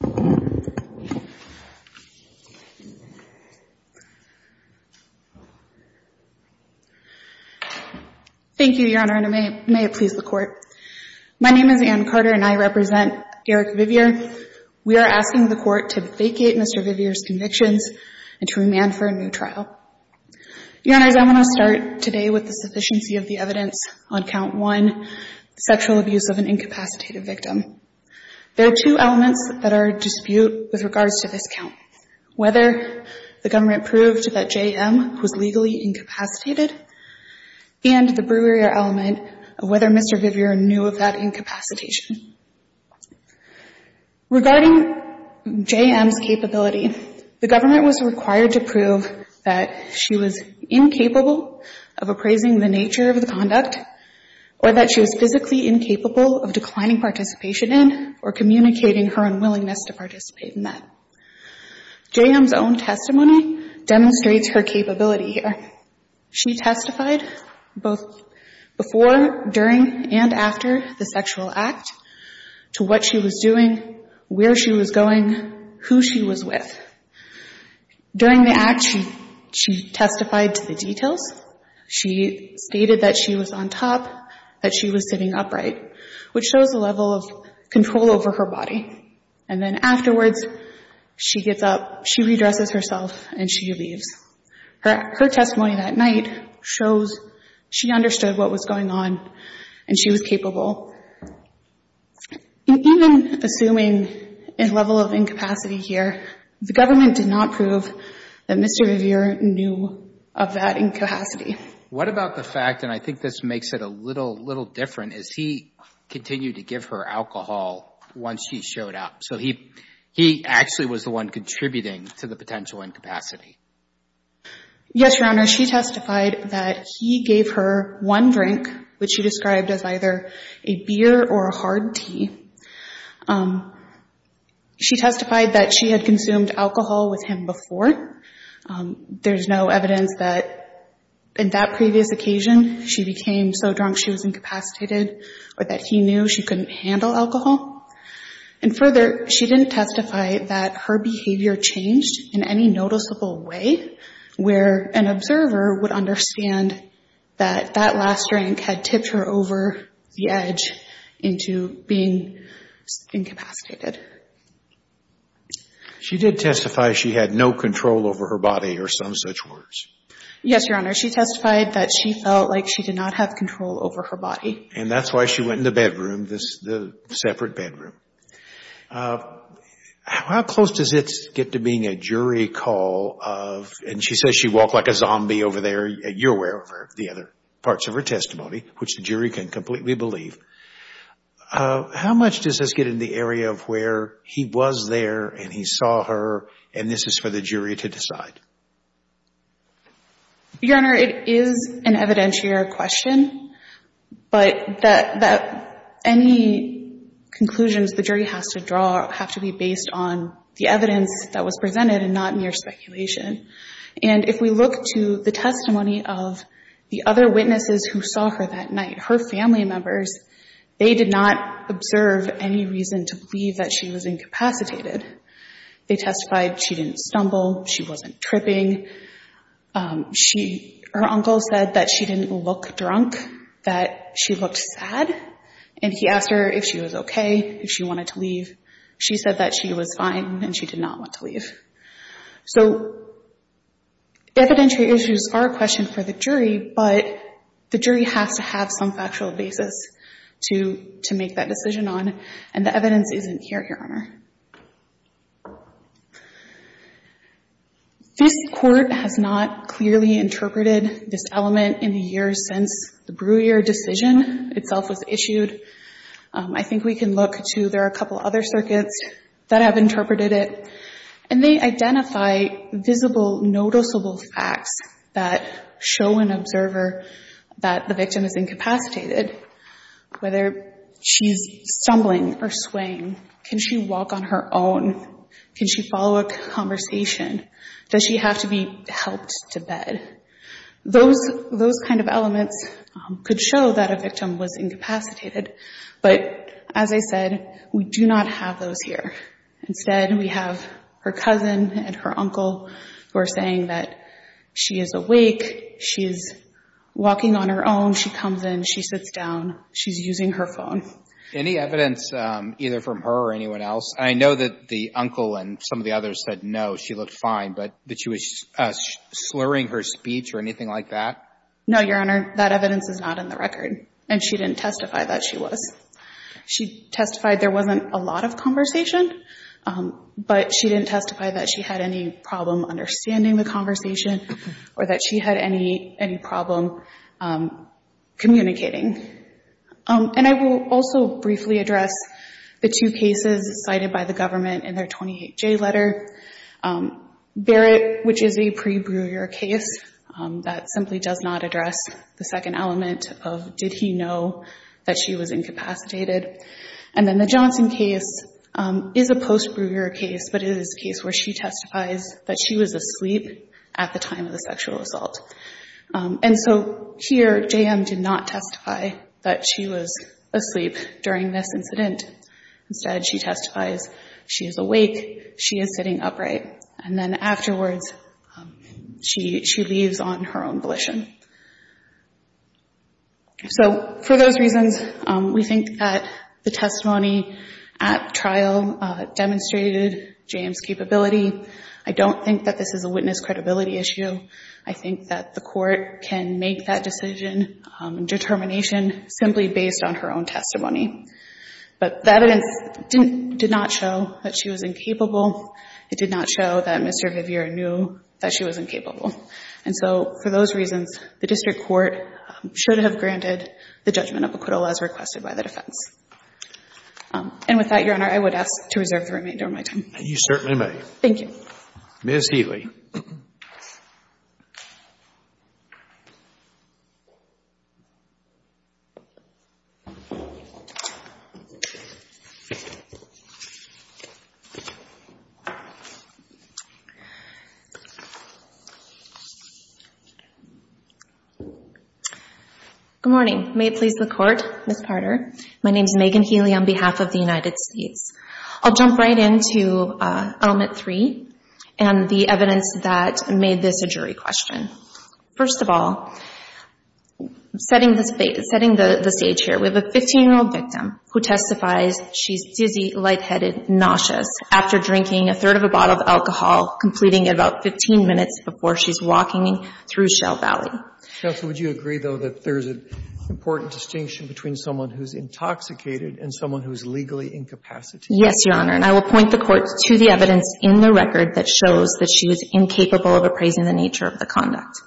Thank you, Your Honor, and may it please the Court. My name is Anne Carter, and I represent Erik Vivier. We are asking the Court to vacate Mr. Vivier's convictions and to remand for a new trial. Your Honors, I want to start today with the sufficiency of the evidence on Count 1, sexual abuse of an incapacitated victim. There are two elements that are at dispute with regards to this count, whether the government proved that J.M. was legally incapacitated and the brewery element of whether Mr. Vivier knew of that incapacitation. Regarding J.M.'s capability, the government was required to prove that she was incapable of appraising the nature of the conduct or that she was physically incapable of declining participation in or communicating her unwillingness to participate in that. J.M.'s own testimony demonstrates her capability. She testified both before, during, and after the sexual act to what she was doing, where she was going, who she was with. During the testimony, she testified to the details. She stated that she was on top, that she was sitting upright, which shows a level of control over her body. And then afterwards, she gets up, she redresses herself, and she leaves. Her testimony that night shows she understood what was going on and she was capable. Even assuming a level of incapacity here, the government did not prove that Mr. Vivier knew of that incapacity. What about the fact, and I think this makes it a little different, is he continued to give her alcohol once she showed up. So he actually was the one contributing to the potential incapacity. Yes, Your Honor. She testified that he gave her one drink, which she described as either a beer or a hard tea. She testified that she had consumed alcohol with him before, but there's no evidence that in that previous occasion, she became so drunk she was incapacitated or that he knew she couldn't handle alcohol. And further, she didn't testify that her behavior changed in any noticeable way, where an observer would understand that that last drink had tipped her over the edge into being incapacitated. She did testify she had no control over her body or some such words. Yes, Your Honor. She testified that she felt like she did not have control over her body. And that's why she went in the bedroom, the separate bedroom. How close does it get to being a jury call of, and she says she walked like a zombie over there, you're aware of the other parts of her testimony, which the jury can completely believe. How much does it get in the area of where he was there and he saw her, and this is for the jury to decide? Your Honor, it is an evidentiary question, but that any conclusions the jury has to draw have to be based on the evidence that was presented and not mere speculation. And if we look to the testimony of the other witnesses who saw her that night, her family members, they did not observe any reason to believe that she was incapacitated. They testified she didn't stumble, she wasn't tripping. Her uncle said that she didn't look drunk, that she looked sad, and he asked her if she was okay, if she wanted to leave. She said that she was fine and she did not want to leave. So evidentiary issues are a question for the jury, but the jury has to have some factual basis to make that decision on, and the evidence isn't here, Your Honor. This Court has not clearly interpreted this element in the years since the Brewer decision itself was issued. I think we can look to, there are a couple other circuits that have interpreted it, and they identify visible, noticeable facts that show an observer that the victim is incapacitated, whether she's stumbling or swaying. Can she walk on her own? Can she follow a conversation? Does she have to be helped to bed? Those kind of elements could show that a victim was incapacitated, but as I said, we do not have those here. Instead, we have her cousin and her uncle who are saying that she is awake, she is walking on her own, she comes in, she sits down, she's using her phone. Any evidence either from her or anyone else? I know that the uncle and some of the others said no, she looked fine, but that she was slurring her speech or anything like that? No, Your Honor. That evidence is not in the record, and she didn't testify that she was. She testified there wasn't a lot of conversation, but she didn't testify that she had any problem understanding the conversation or that she had any problem communicating. And I will also briefly address the two cases cited by the government in their 28J letter. Barrett, which is a pre-Breuer case that simply does not address the second element of did he know that she was incapacitated. And then the Johnson case is a post-Breuer case, but it is a case where she testifies that she was asleep at the time of the sexual assault. And so here, J.M. did not testify that she was asleep during this incident. Instead, she testifies she is awake, she is sitting upright, and then afterwards, she leaves on her own volition. So, for those reasons, we think that the testimony at trial demonstrated J.M.'s capability. I don't think that this is a witness credibility issue. I think that the court can make that decision, determination, simply based on her own testimony. But that evidence didn't, did not show that she was incapable. It did not show that Mr. Viviere knew that she was incapable. And so, for those reasons, the district court should have granted the judgment of acquittal as requested by the defense. And with that, Your Honor, I would ask to reserve the remainder of my time. You certainly may. Thank you. Ms. Healy. Good morning. May it please the Court, Ms. Parder. My name is Megan Healy on behalf of the United States. I'll jump right into Element 3 and the evidence that made this a jury question. First of all, setting the stage here, we have a 15-year-old victim who testifies she's dizzy, lightheaded, nauseous after drinking a third of a bottle of alcohol, completing it about 15 minutes before she's walking through Shell Valley. Counsel, would you agree, though, that there's an important distinction between someone who's intoxicated and someone who's legally incapacitated? Yes, Your Honor. And I will point the Court to the evidence in the record that shows that she was incapable of appraising the nature of the conduct.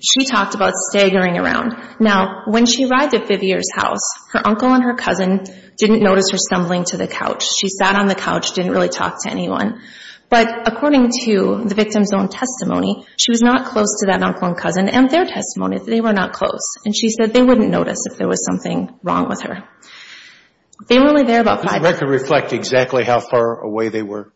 She talked about staggering around. Now, when she arrived at Viviere's house, her uncle and her cousin didn't notice her stumbling to the couch. She sat on the couch, didn't really talk to anyone. But according to the victim's own testimony, she was not close to that cousin. And their testimony, they were not close. And she said they wouldn't notice if there was something wrong with her. They were only there about five minutes. Does the record reflect exactly how far away they were?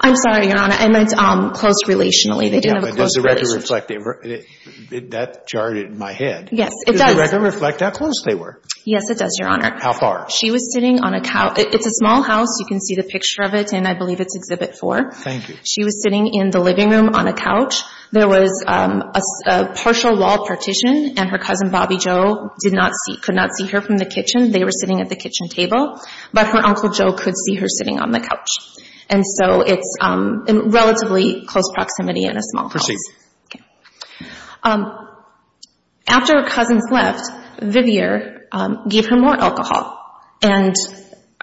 I'm sorry, Your Honor. I meant close relationally. They didn't have a close Yeah, but does the record reflect it? That jarred it in my head. Yes, it does. Does the record reflect how close they were? Yes, it does, Your Honor. How far? She was sitting on a couch. It's a small house. You can see the picture of it, and I believe it's Exhibit 4. Thank you. She was sitting in the living room on a couch. There was a partial wall partition, and her cousin Bobby Joe did not see, could not see her from the kitchen. They were sitting at the kitchen table. But her uncle Joe could see her sitting on the couch. And so it's in relatively close proximity in a small house. Okay. After her cousins left, Viviere gave her more alcohol. And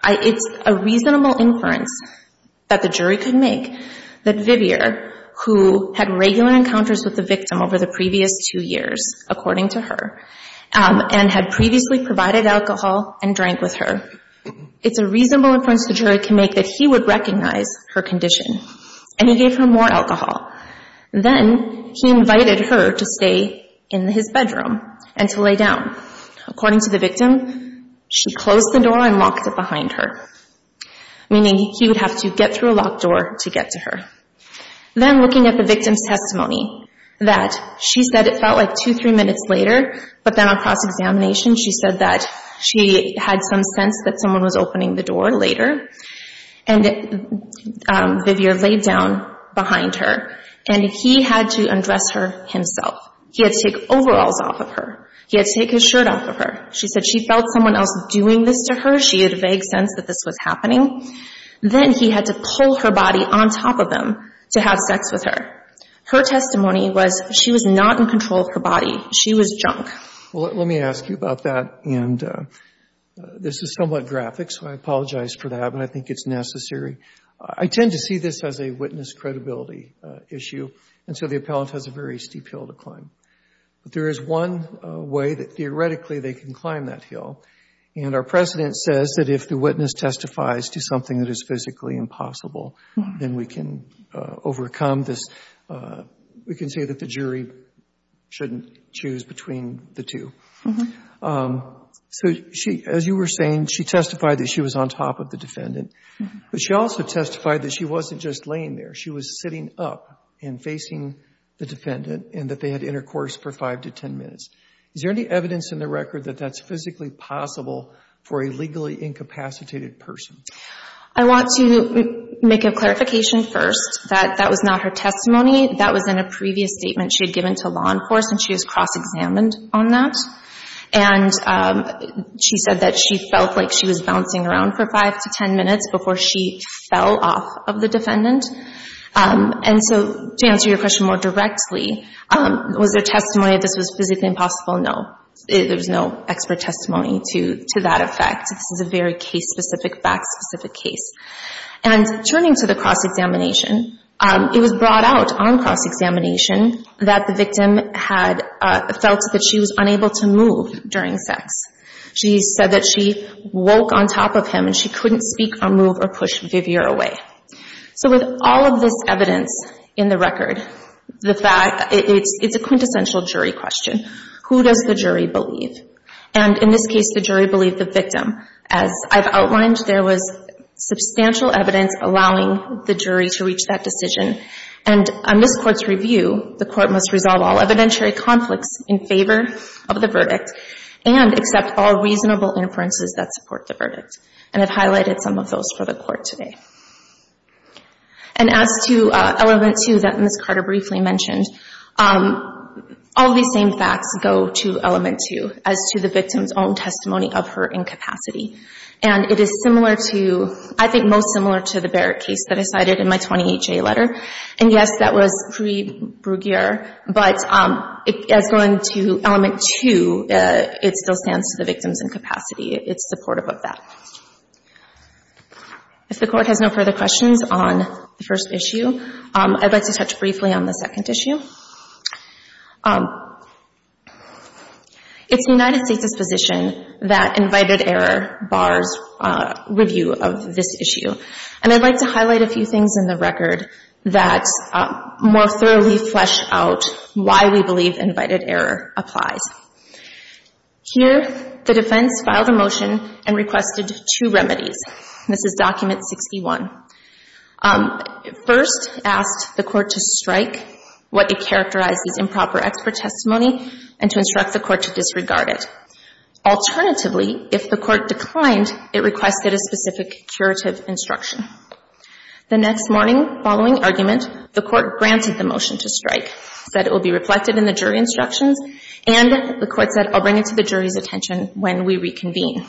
it's a reasonable inference that the jury could make that Viviere, who had regular encounters with the victim over the previous two years, according to her, and had previously provided alcohol and drank with her, it's a reasonable inference the jury can make that he would recognize her condition. And he gave her more alcohol. Then he invited her to stay in his bedroom and to lay down. According to the victim, she closed the door and locked it behind her, meaning he would have to get through a locked door to get to her. Then looking at the victim's testimony, that she said it felt like two, three minutes later, but then across examination she said that she had some sense that someone was opening the door later. And Viviere laid down behind her, and he had to undress her himself. He had to take overalls off of her. He had to take his sense that this was happening. Then he had to pull her body on top of him to have sex with her. Her testimony was she was not in control of her body. She was drunk. Well, let me ask you about that. And this is somewhat graphic, so I apologize for that, but I think it's necessary. I tend to see this as a witness credibility issue, and so the appellant has a very steep hill to climb. But there is one way that theoretically they can climb that hill, and our precedent says that if the witness testifies to something that is physically impossible, then we can overcome this. We can say that the jury shouldn't choose between the two. So as you were saying, she testified that she was on top of the defendant, but she also testified that she wasn't just laying there. She was sitting up and facing the defendant and that they had intercourse for five to ten minutes. Is there any evidence in the record that that's physically possible for a legally incapacitated person? I want to make a clarification first that that was not her testimony. That was in a previous statement she had given to law enforcement. She was cross-examined on that, and she said that she felt like she was bouncing around for five to ten minutes before she fell off of the defendant. And so to answer your question more directly, was there testimony that this was physically impossible? No. There was no expert testimony to that effect. This is a very case-specific, fact-specific case. And turning to the cross-examination, it was brought out on cross-examination that the victim had felt that she was unable to move during sex. She said that she woke on top of him and she couldn't speak or move or push Vivier away. So with all of this evidence in the record, the fact — it's a quintessential jury question. Who does the jury believe? And in this case, the jury believed the victim. As I've outlined, there was substantial evidence allowing the jury to reach that decision. And in this Court's review, the Court must resolve all explanatory conflicts in favor of the verdict and accept all reasonable inferences that support the verdict. And I've highlighted some of those for the Court today. And as to element two that Ms. Carter briefly mentioned, all of these same facts go to element two as to the victim's own testimony of her incapacity. And it is similar to — I think most similar to the Barrett case that I cited in my 28-J letter. And, yes, that was pre-Bruguier, but as going to element two, it still stands to the victim's incapacity. It's supportive of that. If the Court has no further questions on the first issue, I'd like to touch briefly on the second issue. It's the United States' position that invited error bars review of this issue. And I'd like to highlight a few things in the record that more thoroughly flesh out why we believe invited error applies. Here, the defense filed a motion and requested two remedies. This is document 61. First, it asked the Court to strike what it characterized as improper expert testimony and to instruct the Court to disregard it. Alternatively, if the Court declined, it requested a specific curative instruction. The next morning following argument, the Court granted the motion to strike, said it will be reflected in the jury instructions, and the Court said, I'll bring it to the jury's attention when we reconvene.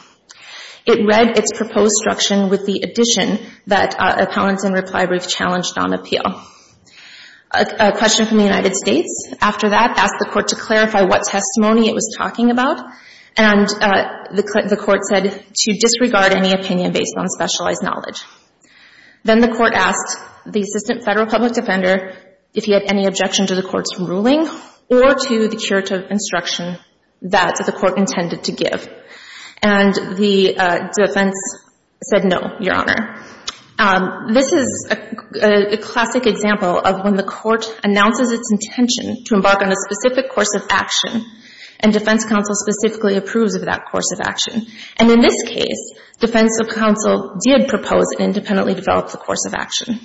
It read its proposed instruction with the addition that opponents in reply brief challenged on appeal. A question from the United States after that asked the Court to clarify what testimony it was talking about, and the Court said to disregard any opinion based on specialized knowledge. Then the Court asked the Assistant Federal Public Defender if he had any objection to the Court's ruling or to the curative instruction that the Court intended to give. And the defense said no, Your Honor. This is a classic example of when the Court announces its intention to embark on a specific course of action, and defense counsel specifically approves of that course of action. And in this case, defense counsel did propose and independently develop the course of action.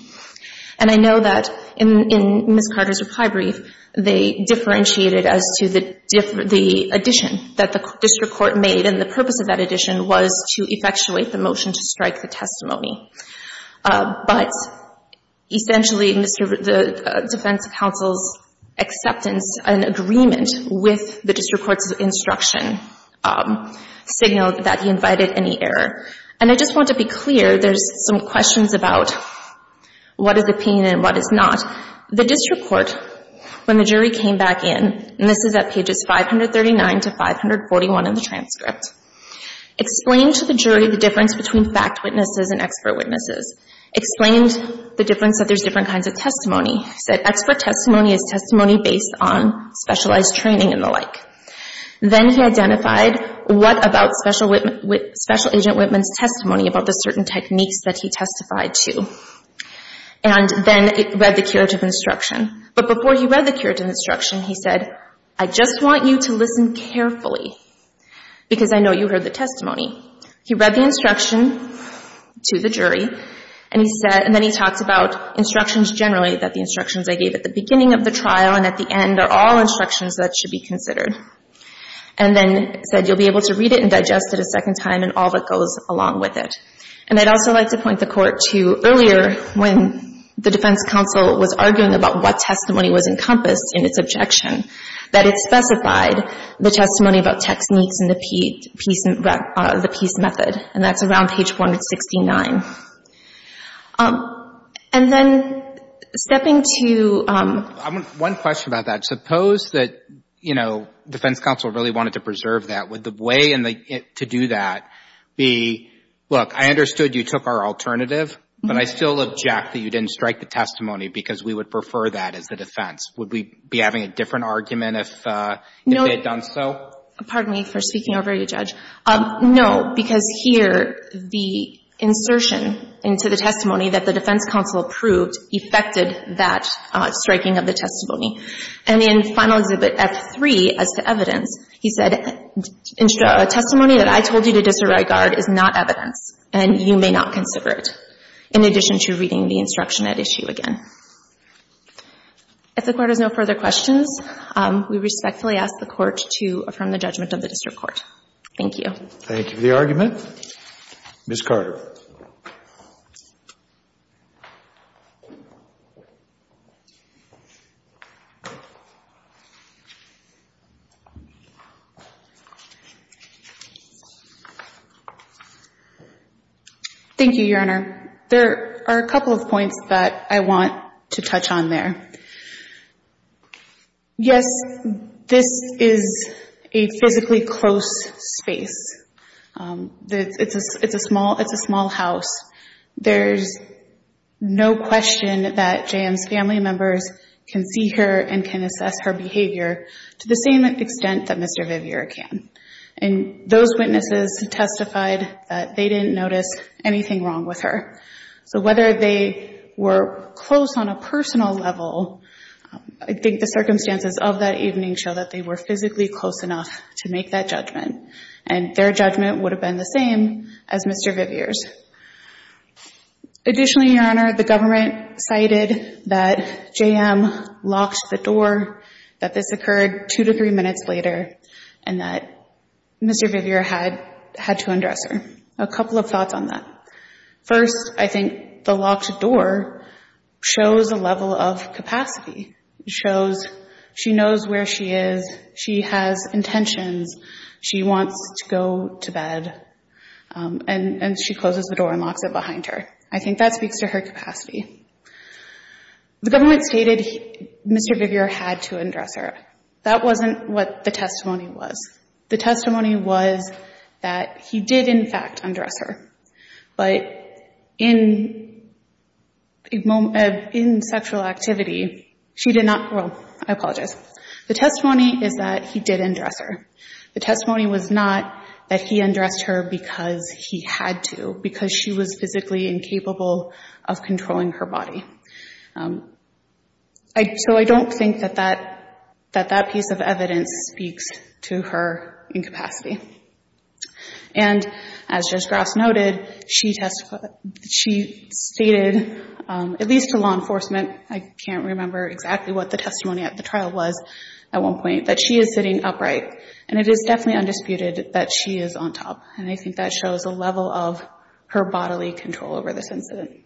And I know that in Ms. Carter's reply brief, they differentiated as to the addition that the district court made, and the purpose of that addition was to effectuate the motion to strike the testimony. But essentially, the defense counsel's acceptance and agreement with the district court's instruction signaled that he invited any error. And I just want to be clear, there's some questions about what is the pain and what is not. The district court, when the jury came back in, and this is at pages 539 to 540, explained to the jury the difference between fact witnesses and expert witnesses, explained the difference that there's different kinds of testimony, said expert testimony is testimony based on specialized training and the like. Then he identified what about Special Agent Whitman's testimony about the certain techniques that he testified to. And then it read the curative instruction. But before he read the curative instruction, he said, I just want you to listen carefully, because I know you heard the testimony. He read the instruction to the jury, and he said, and then he talked about instructions generally, that the instructions I gave at the beginning of the trial and at the end are all instructions that should be considered. And then said you'll be able to read it and digest it a second time and all that goes along with it. And I'd also like to point the Court to earlier when the defense counsel was arguing about what testimony was encompassed in its objection, that it specified the testimony about techniques in the piece method, and that's around page 469. And then stepping to — One question about that. Suppose that, you know, defense counsel really wanted to preserve that. Would the way to do that be, look, I understood you took our alternative, but I still object that you didn't strike the testimony because we would prefer that as the defense. Would we be having a different argument if they had done so? No. Pardon me for speaking over you, Judge. No, because here the insertion into the testimony that the defense counsel approved affected that striking of the testimony. And in Final Exhibit F3, as to evidence, he said, a testimony that I told you to disregard is not evidence, and you may not consider it, in addition to reading the instruction at issue again. If the Court has no further questions, we respectfully ask the Court to affirm the judgment of the district court. Thank you. Thank you for the argument. Ms. Carter. Thank you, Your Honor. There are a couple of points that I want to touch on there. Yes, this is a physically close space. It's a small house. There's no question that J.M.'s family members can see her and can assess her behavior to the same extent that Mr. Viviere can. And those witnesses testified that they didn't notice anything wrong with her. So whether they were close on a personal level, I think the circumstances of that evening show that they were physically close enough to make that judgment. And their judgment would have been the same as Mr. Viviere's. Additionally, Your Honor, the government cited that J.M. locked the door, that this occurred two to three minutes later, and that Mr. Viviere had to undress her. A couple of thoughts on that. First, I think the locked door shows a level of capacity. It shows she knows where she is, she has intentions, she wants to go to bed, and she closes the door and locks it behind her. I think that speaks to her capacity. The government stated Mr. Viviere had to undress her. That wasn't what the testimony was. The testimony was that he did, in fact, undress her. But in sexual activity, she did not – well, I apologize. The testimony is that he did undress her. The testimony was not that he undressed her because he had to, because she was physically incapable of controlling her body. So I don't think that that piece of evidence speaks to her capacity. And, as Judge Grouse noted, she stated, at least to law enforcement – I can't remember exactly what the testimony at the trial was at one point – that she is sitting upright. And it is definitely undisputed that she is on top. And I think that shows a level of her bodily control over this incident.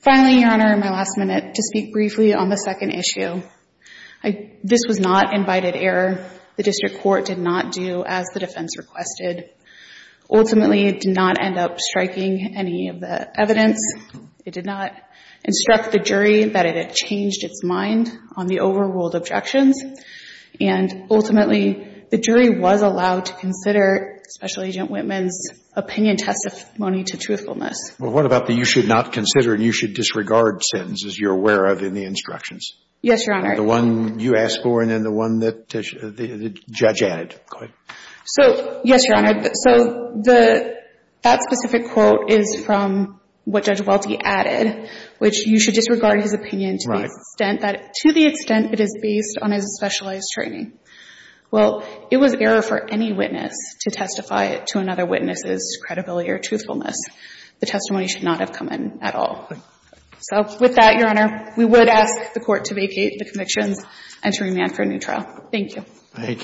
Finally, Your Honor, my last minute to speak briefly on the second issue. This was not invited error. The district court did not do as the defense requested. Ultimately, it did not end up striking any of the evidence. It did not instruct the jury that it had changed its mind on the overruled objections. And ultimately, the jury was allowed to consider Special Agent Whitman's opinion testimony to truthfulness. Well, what about the you should not consider and you should disregard sentence, as you're aware of in the instructions? Yes, Your Honor. The one you asked for and then the one that the judge added. So, yes, Your Honor. So that specific quote is from what Judge Welty added, which you should disregard his opinion to the extent that it is based on his specialized training. Well, it was error for any witness to testify to another witness's credibility or truthfulness. The testimony should not have come in at all. So with that, Your Honor, we would ask the Court to vacate the convictions and to remand for a new trial. Thank you. Thank you.